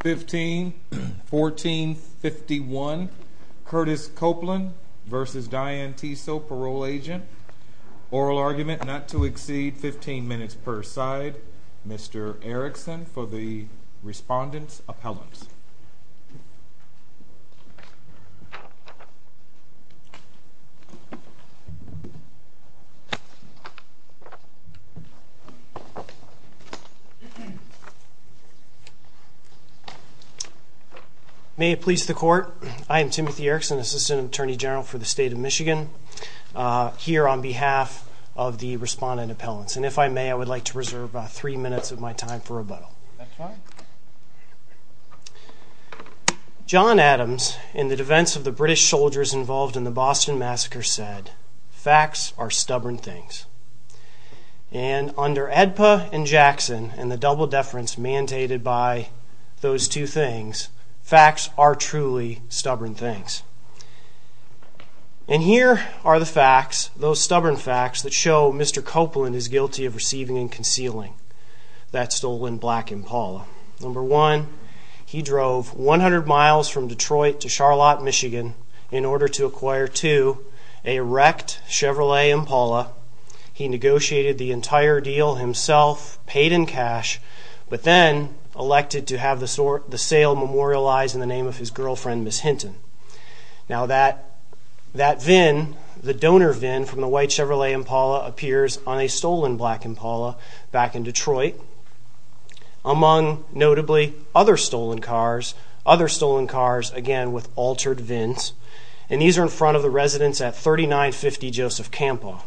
15-14-51 Curtis Copeland v. Diane Tiseo, parole agent. Oral argument not to exceed 15 minutes per side. Mr. Erickson for the respondent's appellant. May it please the court, I am Timothy Erickson, assistant attorney general for the state of Michigan, here on behalf of the respondent appellants. And if I may, I would like to reserve three minutes of my time for rebuttal. John Adams, in the defense of the British soldiers involved in the Boston Massacre, said, facts are stubborn things. And under ADPA and Jackson, and the double deference mandated by those two things, facts are truly stubborn things. And here are the facts, those stubborn facts, that show Mr. Copeland is guilty of receiving and concealing that stolen black Impala. Number one, he drove 100 miles from Detroit to Charlotte, Michigan, in order to acquire, two, a wrecked Chevrolet Impala. He negotiated the entire deal himself, paid in cash, but then elected to have the sale memorialized in the name of his girlfriend, Ms. Hinton. Now that VIN, the donor VIN from the white Chevrolet Impala, appears on a stolen black Impala back in Detroit. Among, notably, other stolen cars, other stolen cars, again, with altered VINs. And these are in front of the residence at 3950 Joseph Campo.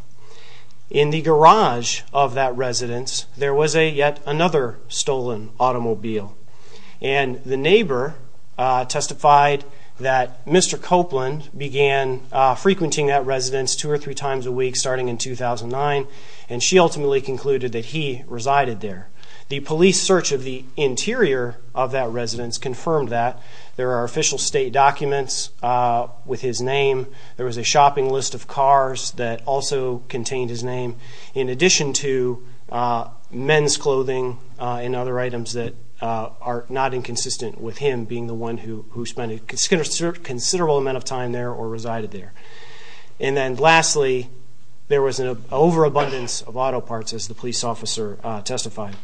In the garage of that residence, there was a, yet another, stolen automobile. And the neighbor testified that Mr. Copeland began frequenting that residence two or three times a week, starting in 2009, and she ultimately concluded that he resided there. The police search of the interior of that residence confirmed that. There are official state documents with his name. There was a shopping list of cars that also contained his name, in addition to men's clothing and other items that are not inconsistent with him being the one who spent a considerable amount of time there or resided there. And then lastly, there was an overabundance of auto parts, as the police officer testified.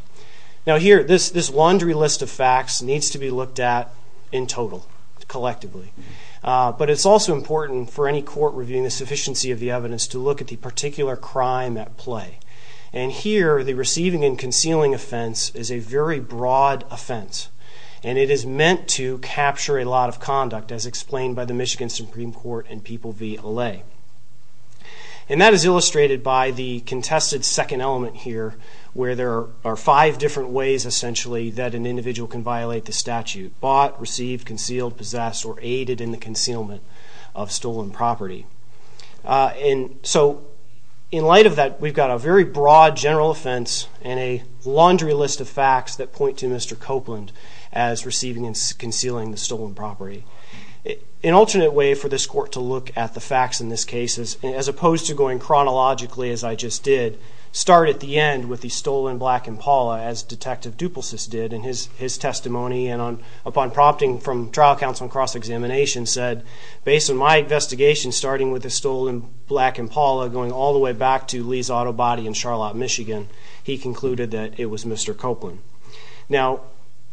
Now here, this laundry list of facts needs to be looked at in total, collectively. But it's also important for any court reviewing the sufficiency of the evidence to look at the particular crime at play. And here, the receiving and concealing offense is a very broad offense, and it is meant to capture a lot of conduct, as explained by the Michigan Supreme Court and People v. Alley. And that is illustrated by the contested second element here, where there are five different ways, essentially, that an individual can violate the statute. Bought, received, concealed, possessed, or aided in the concealment of stolen property. And so, in light of that, we've got a very broad general offense and a laundry list of facts that point to Mr. Copeland as receiving and concealing the stolen property. An alternate way for this court to look at the facts in this case, as opposed to going chronologically as I just did, start at the end with the stolen black Impala, as Detective Dupulsis did in his testimony, and upon prompting from trial counsel and cross-examination, said, based on my investigation, starting with the stolen black Impala, going all the way back to Lee's auto body in Charlotte, Michigan, he concluded that it was Mr. Copeland. Now,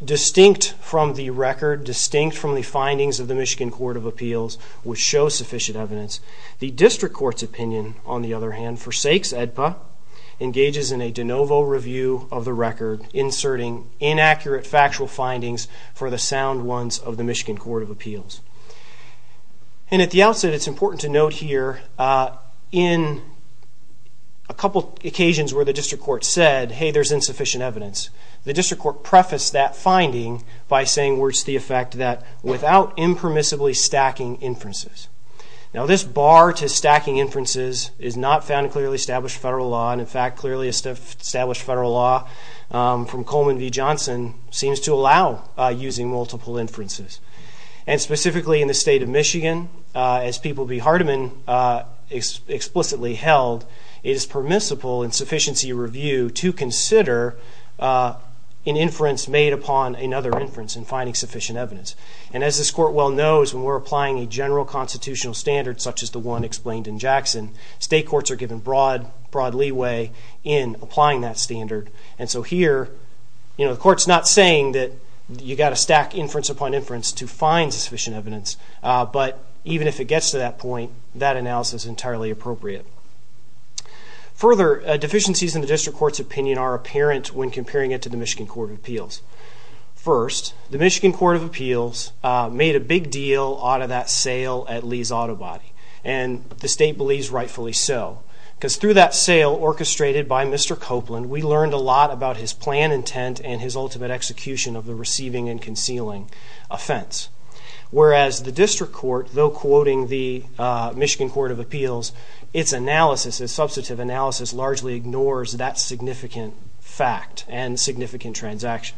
distinct from the record, distinct from the findings of the Michigan Court of Appeals, which show sufficient evidence, the District Court's opinion, on the other hand, forsakes AEDPA, engages in a de novo review of the record, inserting inaccurate factual findings for the sound ones of the Michigan Court of Appeals. And at the outset, it's important to note here, in a couple occasions where the District Court said, hey, there's insufficient evidence, the District Court prefaced that finding by saying, where's the effect of that, without impermissibly stacking inferences. Now, this bar to stacking inferences is not found in clearly established federal law, and in fact, clearly established federal law from Coleman v. Johnson seems to allow using multiple inferences. And specifically in the state of Michigan, as People v. Hardeman explicitly held, it is permissible in sufficiency review to consider an inference made upon another inference in finding sufficient evidence. And as this court well knows, when we're applying a general constitutional standard, such as the one explained in Jackson, state courts are given broad leeway in applying that standard. And so here, the court's not saying that you've got to stack inference upon inference to find sufficient evidence, but even if it gets to that point, that analysis is entirely appropriate. Further, deficiencies in the District Court's opinion are apparent when comparing it to the Michigan Court of Appeals. First, the Michigan Court of Appeals made a big deal out of that sale at Lee's Auto Body, and the state believes rightfully so. Because through that sale orchestrated by Mr. Copeland, we learned a lot about his plan intent and his ultimate execution of the receiving and concealing offense. Whereas the District Court, though quoting the Michigan Court of Appeals, its analysis, its substantive analysis largely ignores that significant fact and significant transaction.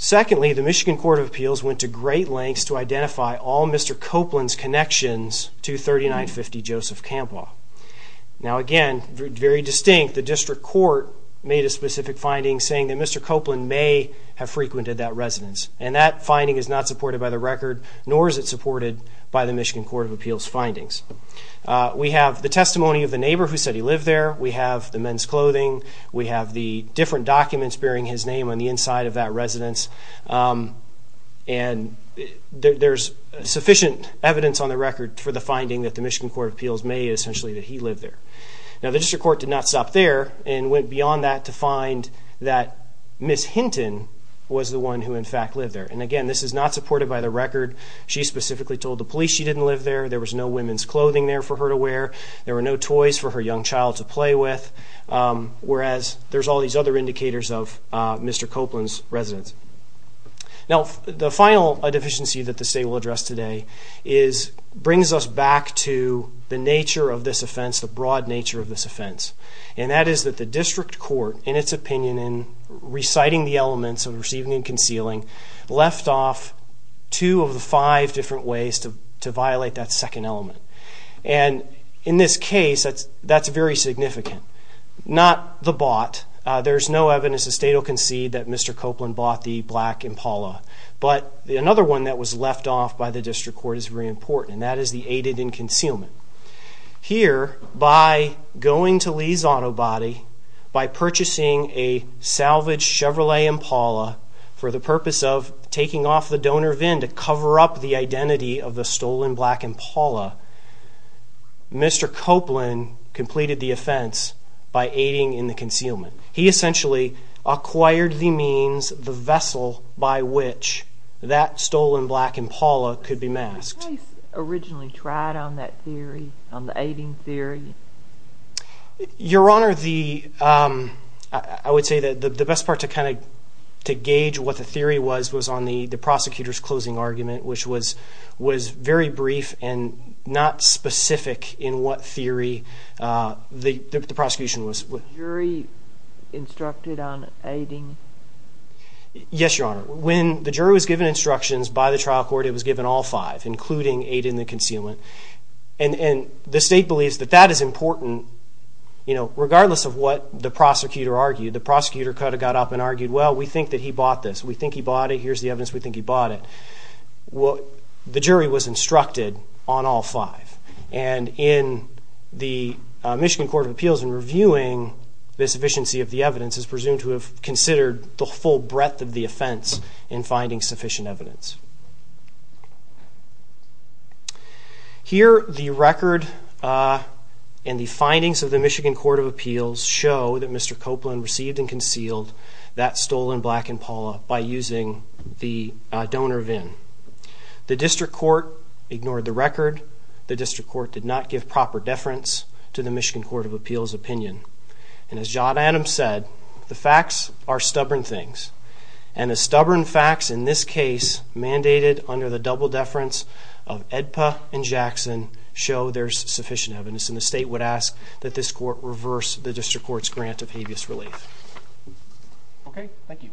Secondly, the Michigan Court of Appeals went to great lengths to identify all Mr. Copeland's connections to 3950 Joseph Campaugh. Now again, very distinct, the District Court made a specific finding saying that Mr. Copeland may have frequented that residence. And that finding is not supported by the record, nor is it supported by the Michigan Court of Appeals findings. We have the testimony of the neighbor who said he lived there. We have the men's clothing. We have the different documents bearing his name on the inside of that residence. And there's sufficient evidence on the record for the finding that the Michigan Court of Appeals may have essentially that he lived there. Now the District Court did not stop there and went beyond that to find that Ms. Hinton was the one who in fact lived there. And again, this is not supported by the record. She specifically told the police she didn't live there. There was no women's clothing there for her to wear. There were no toys for her young child to play with. Whereas there's all these other indicators of Mr. Copeland's residence. Now the final deficiency that the state will address today brings us back to the nature of this offense, the broad nature of this offense. And that is that the District Court, in its opinion, in reciting the elements of receiving and concealing, left off two of the five different ways to violate that second element. And in this case, that's very significant. Not the bought. There's no evidence the state will concede that Mr. Copeland bought the black Impala. But another one that was left off by the District Court is very important. And that is the aided and concealment. Here, by going to Lee's Auto Body, by purchasing a salvaged Chevrolet Impala, for the purpose of taking off the donor VIN to cover up the identity of the stolen black Impala, Mr. Copeland completed the offense by aiding in the concealment. He essentially acquired the means, the vessel, by which that stolen black Impala could be masked. How was this case originally tried on that theory, on the aiding theory? Your Honor, I would say that the best part to gauge what the theory was, was on the prosecutor's closing argument, which was very brief and not specific in what theory the prosecution was. Was the jury instructed on aiding? Yes, Your Honor. When the jury was given instructions by the trial court, it was given all five, including aid in the concealment. And the state believes that that is important, regardless of what the prosecutor argued. The prosecutor could have got up and argued, well, we think that he bought this, we think he bought it, here's the evidence, we think he bought it. The jury was instructed on all five. And in the Michigan Court of Appeals, in reviewing the sufficiency of the evidence, it's presumed to have considered the full breadth of the offense in finding sufficient evidence. Here, the record and the findings of the Michigan Court of Appeals show that Mr. Copeland received and concealed that stolen black Impala by using the donor VIN. The district court ignored the record. The district court did not give proper deference to the Michigan Court of Appeals opinion. And as John Adams said, the facts are stubborn things. And the stubborn facts in this case, mandated under the double deference of Edpa and Jackson, show there's sufficient evidence. And the state would ask that this court reverse the district court's grant of habeas relief. Okay, thank you.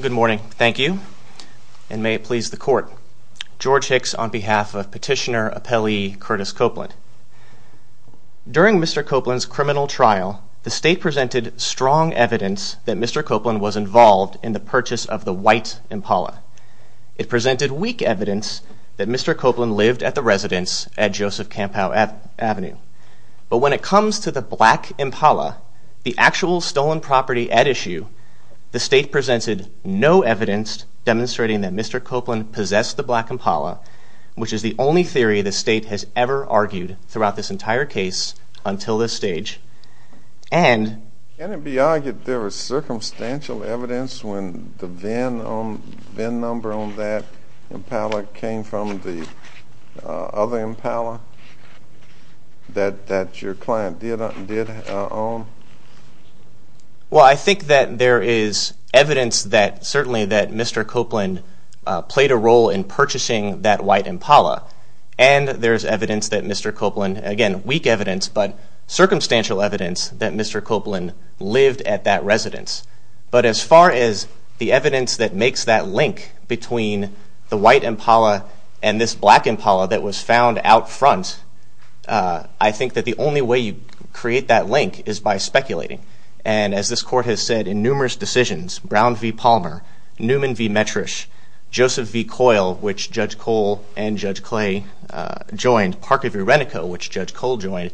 Good morning. Thank you. And may it please the court. George Hicks on behalf of Petitioner Appellee Curtis Copeland. During Mr. Copeland's criminal trial, the state presented strong evidence that Mr. Copeland was involved in the purchase of the white Impala. It presented weak evidence that Mr. Copeland lived at the residence at Joseph Kampow Avenue. But when it comes to the black Impala, the actual stolen property at issue, the state presented no evidence demonstrating that Mr. Copeland possessed the black Impala, which is the only theory the state has ever argued throughout this entire case until this stage. Can it be argued there was circumstantial evidence when the VIN number on that Impala came from the other Impala that your client did own? Well, I think that there is evidence that certainly that Mr. Copeland played a role in purchasing that white Impala. And there is evidence that Mr. Copeland, again, weak evidence, but circumstantial evidence that Mr. Copeland lived at that residence. But as far as the evidence that makes that link between the white Impala and this black Impala that was found out front, I think that the only way you create that link is by speculating. And as this court has said in numerous decisions, Brown v. Palmer, Newman v. Metrish, Joseph v. Coyle, which Judge Cole and Judge Clay joined, Parker v. Renico, which Judge Cole joined,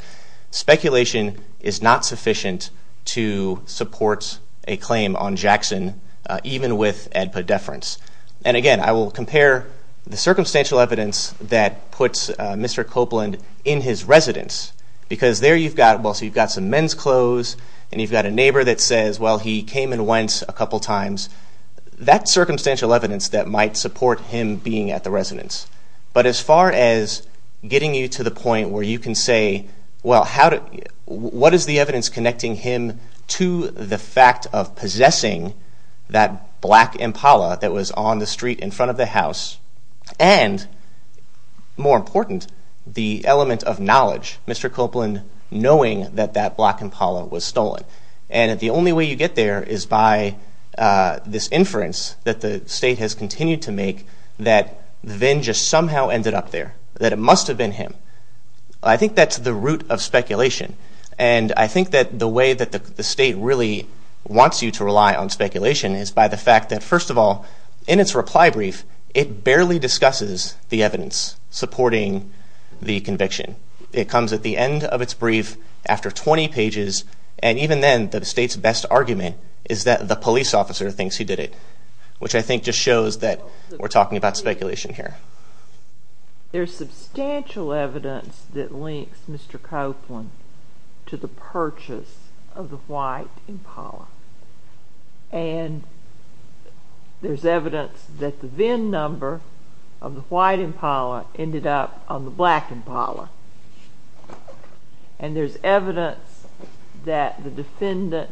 speculation is not sufficient to support a claim on Jackson, even with ADPA deference. And again, I will compare the circumstantial evidence that puts Mr. Copeland in his residence, because there you've got some men's clothes, and you've got a neighbor that says, well, he came and went a couple times. That's circumstantial evidence that might support him being at the residence. But as far as getting you to the point where you can say, well, what is the evidence connecting him to the fact of possessing that black Impala that was on the street in front of the house? And more important, the element of knowledge, Mr. Copeland knowing that that black Impala was stolen. And the only way you get there is by this inference that the state has continued to make that Vinn just somehow ended up there, that it must have been him. I think that's the root of speculation. And I think that the way that the state really wants you to rely on speculation is by the fact that, first of all, in its reply brief, it barely discusses the evidence supporting the conviction. It comes at the end of its brief after 20 pages, and even then, the state's best argument is that the police officer thinks he did it, which I think just shows that we're talking about speculation here. There's substantial evidence that links Mr. Copeland to the purchase of the white Impala. And there's evidence that the Vinn number of the white Impala ended up on the black Impala. And there's evidence that the defendant,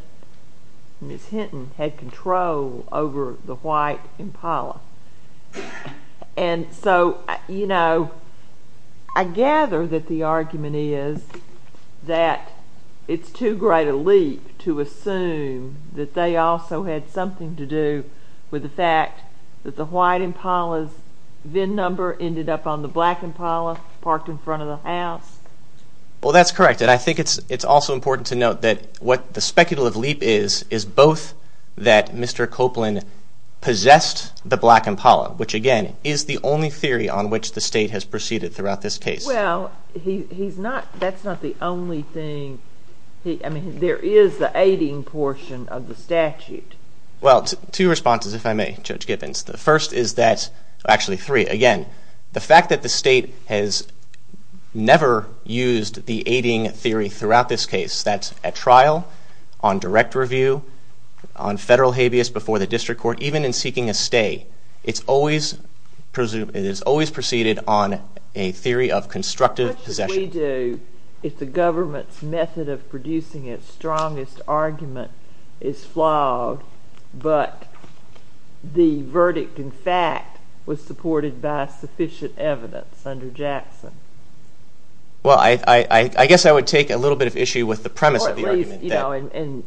Ms. Hinton, had control over the white Impala. And so, you know, I gather that the argument is that it's too great a leap to assume that they also had something to do with the fact that the white Impala's Vinn number ended up on the black Impala, parked in front of the house. Well, that's correct. And I think it's also important to note that what the speculative leap is, is both that Mr. Copeland possessed the black Impala, which again, is the only theory on which the state has proceeded throughout this case. Well, he's not, that's not the only thing. I mean, there is the aiding portion of the statute. Well, two responses, if I may, Judge Gibbons. The first is that, actually three, again, the fact that the state has never used the aiding theory throughout this case, that's at trial, on direct review, on federal habeas before the district court, even in seeking a stay. It's always proceeded on a theory of constructive possession. What should we do if the government's method of producing its strongest argument is flawed, but the verdict, in fact, was supported by sufficient evidence under Jackson? Well, I guess I would take a little bit of issue with the premise of the argument. And,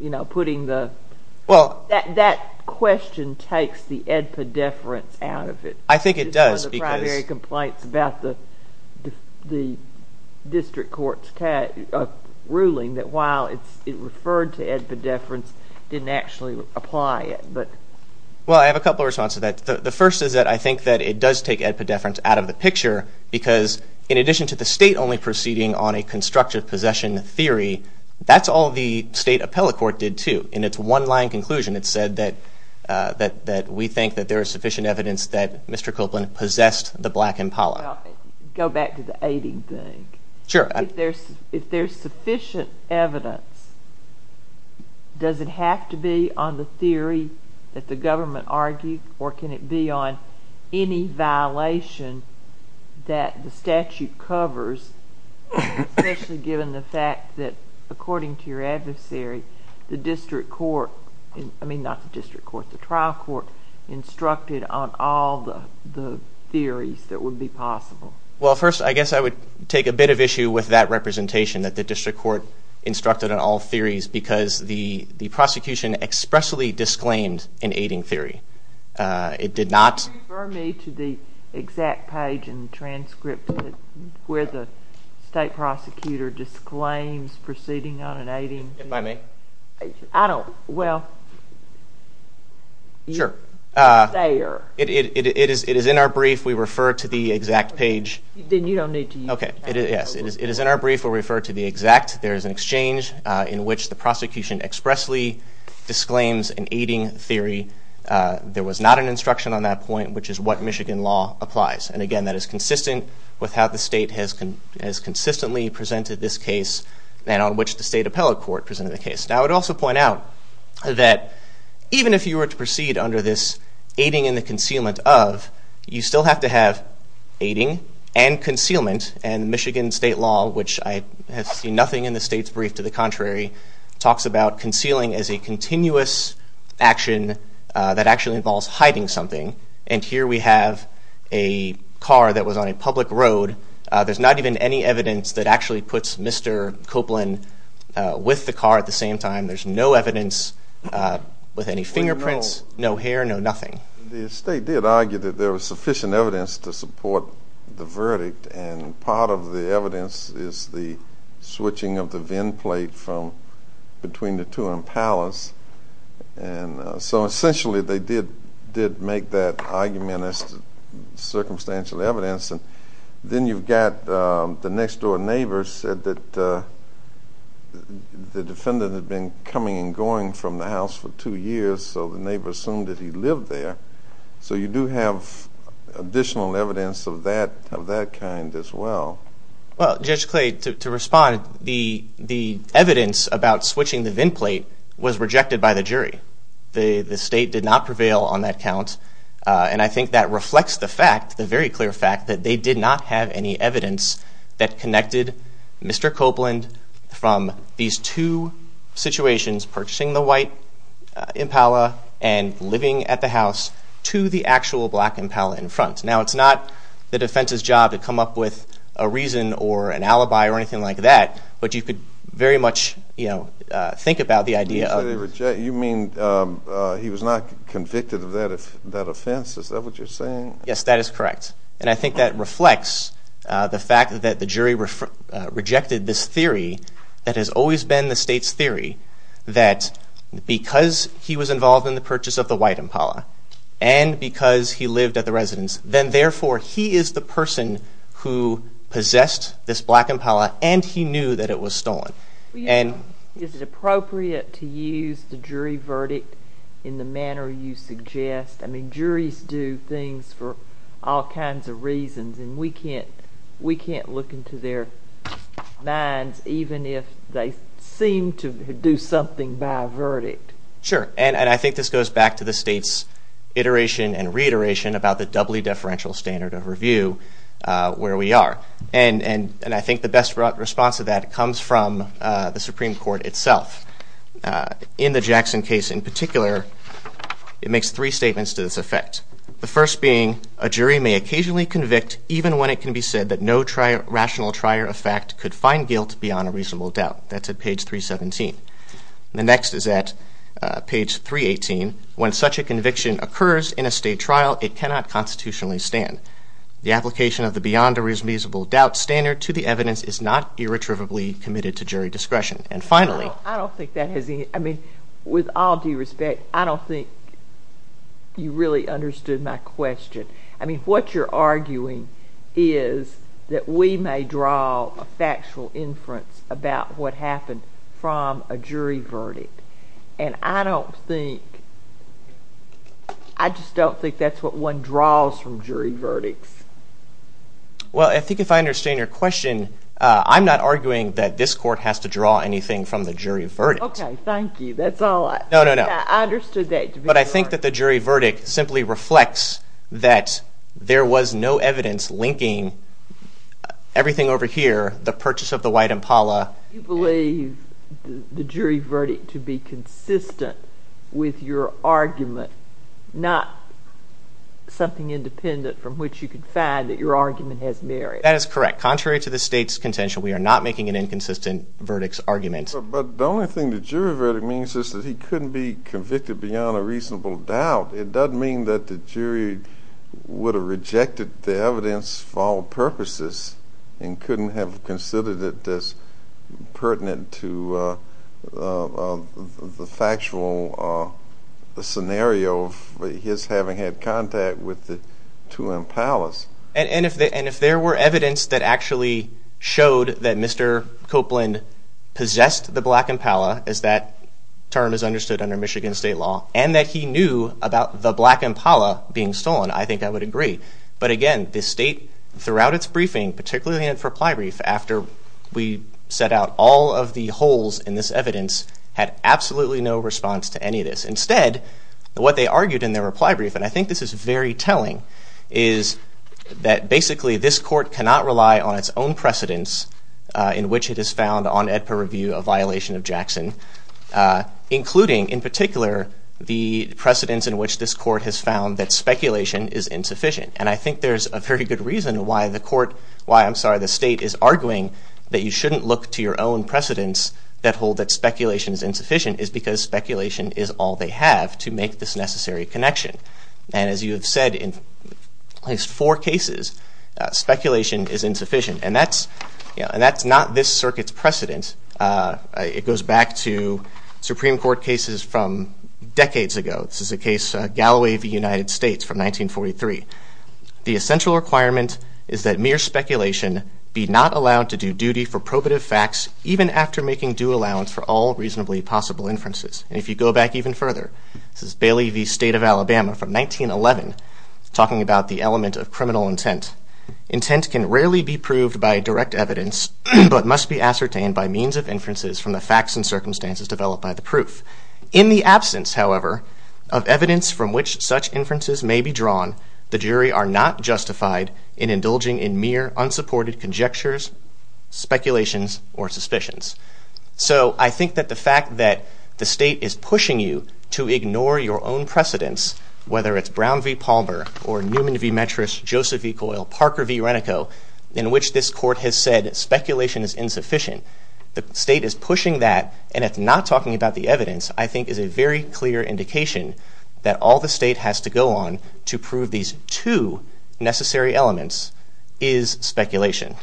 you know, putting the, that question takes the edpedeference out of it. I think it does. It's one of the primary complaints about the district court's ruling, that while it referred to edpedeference, didn't actually apply it. Well, I have a couple of responses to that. The first is that I think that it does take edpedeference out of the picture, because in addition to the state only proceeding on a constructive possession theory, that's all the state appellate court did, too. In its one-line conclusion, it said that we think that there is sufficient evidence that Mr. Copeland possessed the black impala. Go back to the aiding thing. Sure. If there's sufficient evidence, does it have to be on the theory that the government argued, or can it be on any violation that the statute covers, especially given the fact that, according to your adversary, the district court, I mean not the district court, the trial court, instructed on all the theories that would be possible? Well, first, I guess I would take a bit of issue with that representation, that the district court instructed on all theories, because the prosecution expressly disclaimed an aiding theory. It did not. Can you refer me to the exact page in the transcript where the state prosecutor disclaims proceeding on an aiding theory? If I may. I don't. Well. Sure. It's there. It is in our brief. We refer to the exact page. Then you don't need to use it. Okay. Yes. It is in our brief. We refer to the exact. There is an exchange in which the prosecution expressly disclaims an aiding theory. There was not an instruction on that point, which is what Michigan law applies. And, again, that is consistent with how the state has consistently presented this case and on which the state appellate court presented the case. Now, I would also point out that even if you were to proceed under this aiding and the concealment of, you still have to have aiding and concealment. And Michigan state law, which I have seen nothing in the state's brief to the contrary, talks about concealing as a continuous action that actually involves hiding something. And here we have a car that was on a public road. There's not even any evidence that actually puts Mr. Copeland with the car at the same time. There's no evidence with any fingerprints, no hair, no nothing. The state did argue that there was sufficient evidence to support the verdict, and part of the evidence is the switching of the VIN plate from between the two in Palace. And so, essentially, they did make that argument as circumstantial evidence. And then you've got the next-door neighbor said that the defendant had been coming and going from the house for two years, so the neighbor assumed that he lived there. So you do have additional evidence of that kind as well. Well, Judge Clay, to respond, the evidence about switching the VIN plate was rejected by the jury. The state did not prevail on that count. And I think that reflects the fact, the very clear fact, that they did not have any evidence that connected Mr. Copeland from these two situations, purchasing the white Impala and living at the house, to the actual black Impala in front. Now, it's not the defense's job to come up with a reason or an alibi or anything like that, but you could very much think about the idea of it. You mean he was not convicted of that offense? Is that what you're saying? Yes, that is correct. And I think that reflects the fact that the jury rejected this theory that has always been the state's theory, that because he was involved in the purchase of the white Impala and because he lived at the residence, then therefore he is the person who possessed this black Impala and he knew that it was stolen. Is it appropriate to use the jury verdict in the manner you suggest? I mean, juries do things for all kinds of reasons, and we can't look into their minds even if they seem to do something by verdict. Sure. And I think this goes back to the state's iteration and reiteration about the doubly deferential standard of review where we are. And I think the best response to that comes from the Supreme Court itself. In the Jackson case in particular, it makes three statements to this effect, the first being a jury may occasionally convict even when it can be said that no rational trier of fact could find guilt beyond a reasonable doubt. That's at page 317. The next is at page 318. When such a conviction occurs in a state trial, it cannot constitutionally stand. The application of the beyond a reasonable doubt standard to the evidence is not irretrievably committed to jury discretion. And finally. I don't think that has any – I mean, with all due respect, I don't think you really understood my question. I mean, what you're arguing is that we may draw a factual inference about what happened from a jury verdict. And I don't think – I just don't think that's what one draws from jury verdicts. Well, I think if I understand your question, I'm not arguing that this court has to draw anything from the jury verdict. Okay, thank you. That's all I – No, no, no. I understood that. But I think that the jury verdict simply reflects that there was no evidence linking everything over here, the purchase of the white Impala. You believe the jury verdict to be consistent with your argument, not something independent from which you can find that your argument has merit. That is correct. Contrary to the state's contention, we are not making an inconsistent verdicts argument. But the only thing the jury verdict means is that he couldn't be convicted beyond a reasonable doubt. It doesn't mean that the jury would have rejected the evidence for all purposes and couldn't have considered it as pertinent to the factual scenario of his having had contact with the two Impalas. And if there were evidence that actually showed that Mr. Copeland possessed the black Impala, as that term is understood under Michigan state law, and that he knew about the black Impala being stolen, I think I would agree. But again, the state, throughout its briefing, particularly in its reply brief, after we set out all of the holes in this evidence, had absolutely no response to any of this. Instead, what they argued in their reply brief, and I think this is very telling, is that basically this court cannot rely on its own precedents in which it has found on AEDPA review a violation of Jackson. Including, in particular, the precedents in which this court has found that speculation is insufficient. And I think there's a very good reason why the state is arguing that you shouldn't look to your own precedents that hold that speculation is insufficient is because speculation is all they have to make this necessary connection. And as you have said in at least four cases, speculation is insufficient. And that's not this circuit's precedent. It goes back to Supreme Court cases from decades ago. This is a case, Galloway v. United States from 1943. The essential requirement is that mere speculation be not allowed to do duty for probative facts, even after making due allowance for all reasonably possible inferences. And if you go back even further, this is Bailey v. State of Alabama from 1911, talking about the element of criminal intent. Intent can rarely be proved by direct evidence, but must be ascertained by means of inferences from the facts and circumstances developed by the proof. In the absence, however, of evidence from which such inferences may be drawn, the jury are not justified in indulging in mere unsupported conjectures, speculations, or suspicions. So I think that the fact that the state is pushing you to ignore your own precedents, whether it's Brown v. Palmer or Newman v. Metras, Joseph v. Coyle, Parker v. Renico, in which this court has said speculation is insufficient. The state is pushing that, and it's not talking about the evidence, I think is a very clear indication that all the state has to go on to prove these two necessary elements is speculation.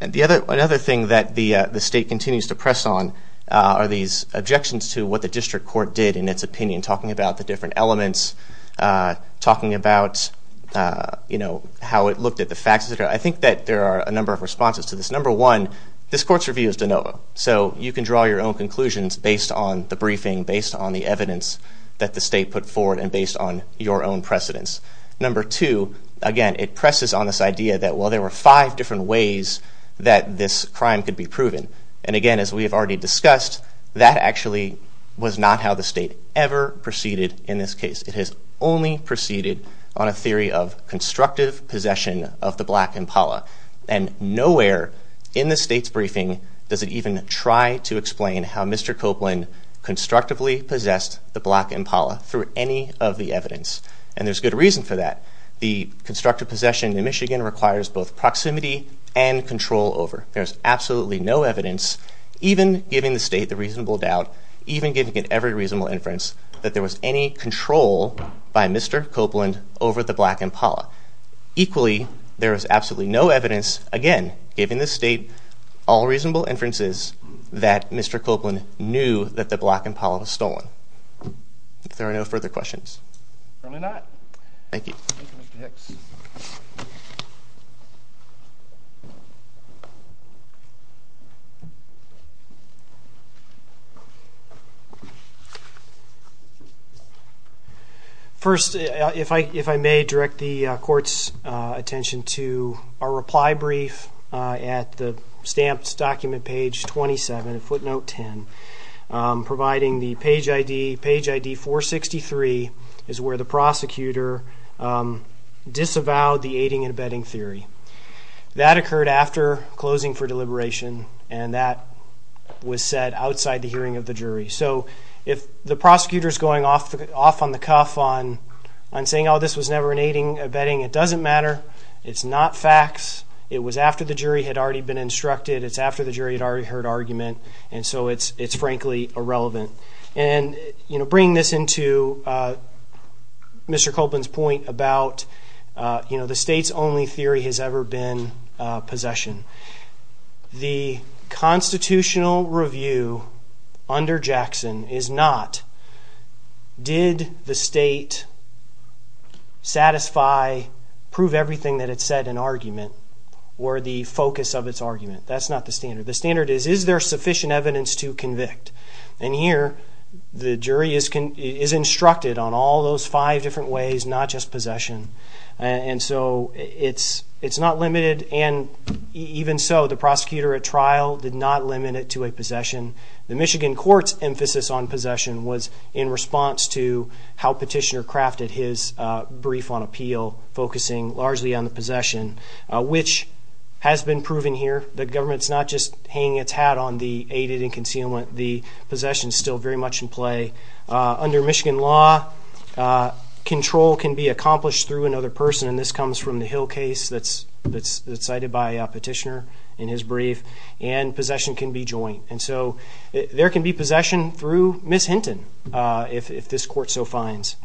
Another thing that the state continues to press on are these objections to what the district court did in its opinion, talking about the different elements, talking about how it looked at the facts. I think that there are a number of responses to this. Number one, this court's review is de novo, so you can draw your own conclusions based on the briefing, based on the evidence that the state put forward, and based on your own precedents. Number two, again, it presses on this idea that, well, there were five different ways that this crime could be proven. And again, as we have already discussed, that actually was not how the state ever proceeded in this case. It has only proceeded on a theory of constructive possession of the black impala. And nowhere in the state's briefing does it even try to explain how Mr. Copeland constructively possessed the black impala through any of the evidence. And there's good reason for that. The constructive possession in Michigan requires both proximity and control over. There's absolutely no evidence, even giving the state the reasonable doubt, even giving it every reasonable inference, that there was any control by Mr. Copeland over the black impala. Equally, there is absolutely no evidence, again, giving the state all reasonable inferences, that Mr. Copeland knew that the black impala was stolen. If there are no further questions. Apparently not. Thank you. Thank you, Mr. Hicks. First, if I may, direct the court's attention to our reply brief at the stamped document, page 27, footnote 10. Providing the page ID 463 is where the prosecutor disavowed the aiding and abetting theory. That occurred after closing for deliberation, and that was said outside the hearing of the jury. So if the prosecutor's going off on the cuff on saying, oh, this was never an aiding and abetting, it doesn't matter. It's not facts. It was after the jury had already been instructed. It's after the jury had already heard argument. And so it's frankly irrelevant. And, you know, bringing this into Mr. Copeland's point about, you know, the state's only theory has ever been possession. The constitutional review under Jackson is not, did the state satisfy, prove everything that it said in argument, or the focus of its argument. That's not the standard. The standard is, is there sufficient evidence to convict? And here, the jury is instructed on all those five different ways, not just possession. And so it's not limited, and even so, the prosecutor at trial did not limit it to a possession. The Michigan court's emphasis on possession was in response to how Petitioner crafted his brief on appeal, focusing largely on the possession, which has been proven here. The government's not just hanging its hat on the aided and concealment. The possession's still very much in play. Under Michigan law, control can be accomplished through another person, and this comes from the Hill case that's cited by Petitioner in his brief, and possession can be joint. And so there can be possession through Ms. Hinton, if this court so finds.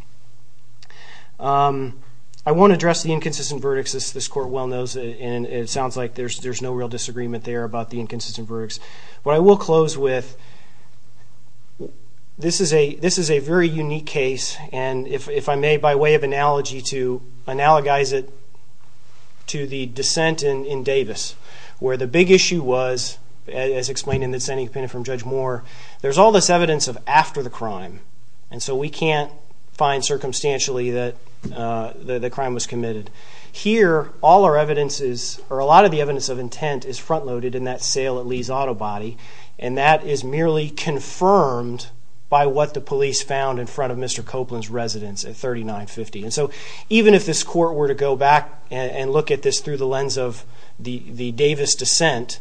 I won't address the inconsistent verdicts, as this court well knows, and it sounds like there's no real disagreement there about the inconsistent verdicts. But I will close with, this is a very unique case, and if I may, by way of analogy, to analogize it to the dissent in Davis, where the big issue was, as explained in the dissenting opinion from Judge Moore, there's all this evidence of after the crime, and so we can't find circumstantially that the crime was committed. Here, all our evidence is, or a lot of the evidence of intent is front-loaded in that sale at Lee's Auto Body, and that is merely confirmed by what the police found in front of Mr. Copeland's residence at 3950. And so even if this court were to go back and look at this through the lens of the Davis dissent,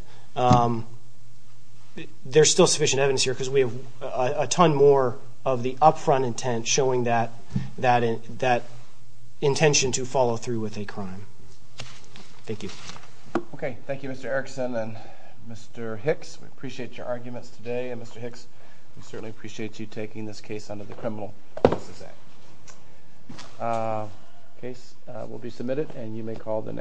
there's still sufficient evidence here because we have a ton more of the up-front intent showing that intention to follow through with a crime. Thank you. Okay. Thank you, Mr. Erickson and Mr. Hicks. We appreciate your arguments today. And Mr. Hicks, we certainly appreciate you taking this case under the Criminal Cases Act. The case will be submitted, and you may call the next hearing.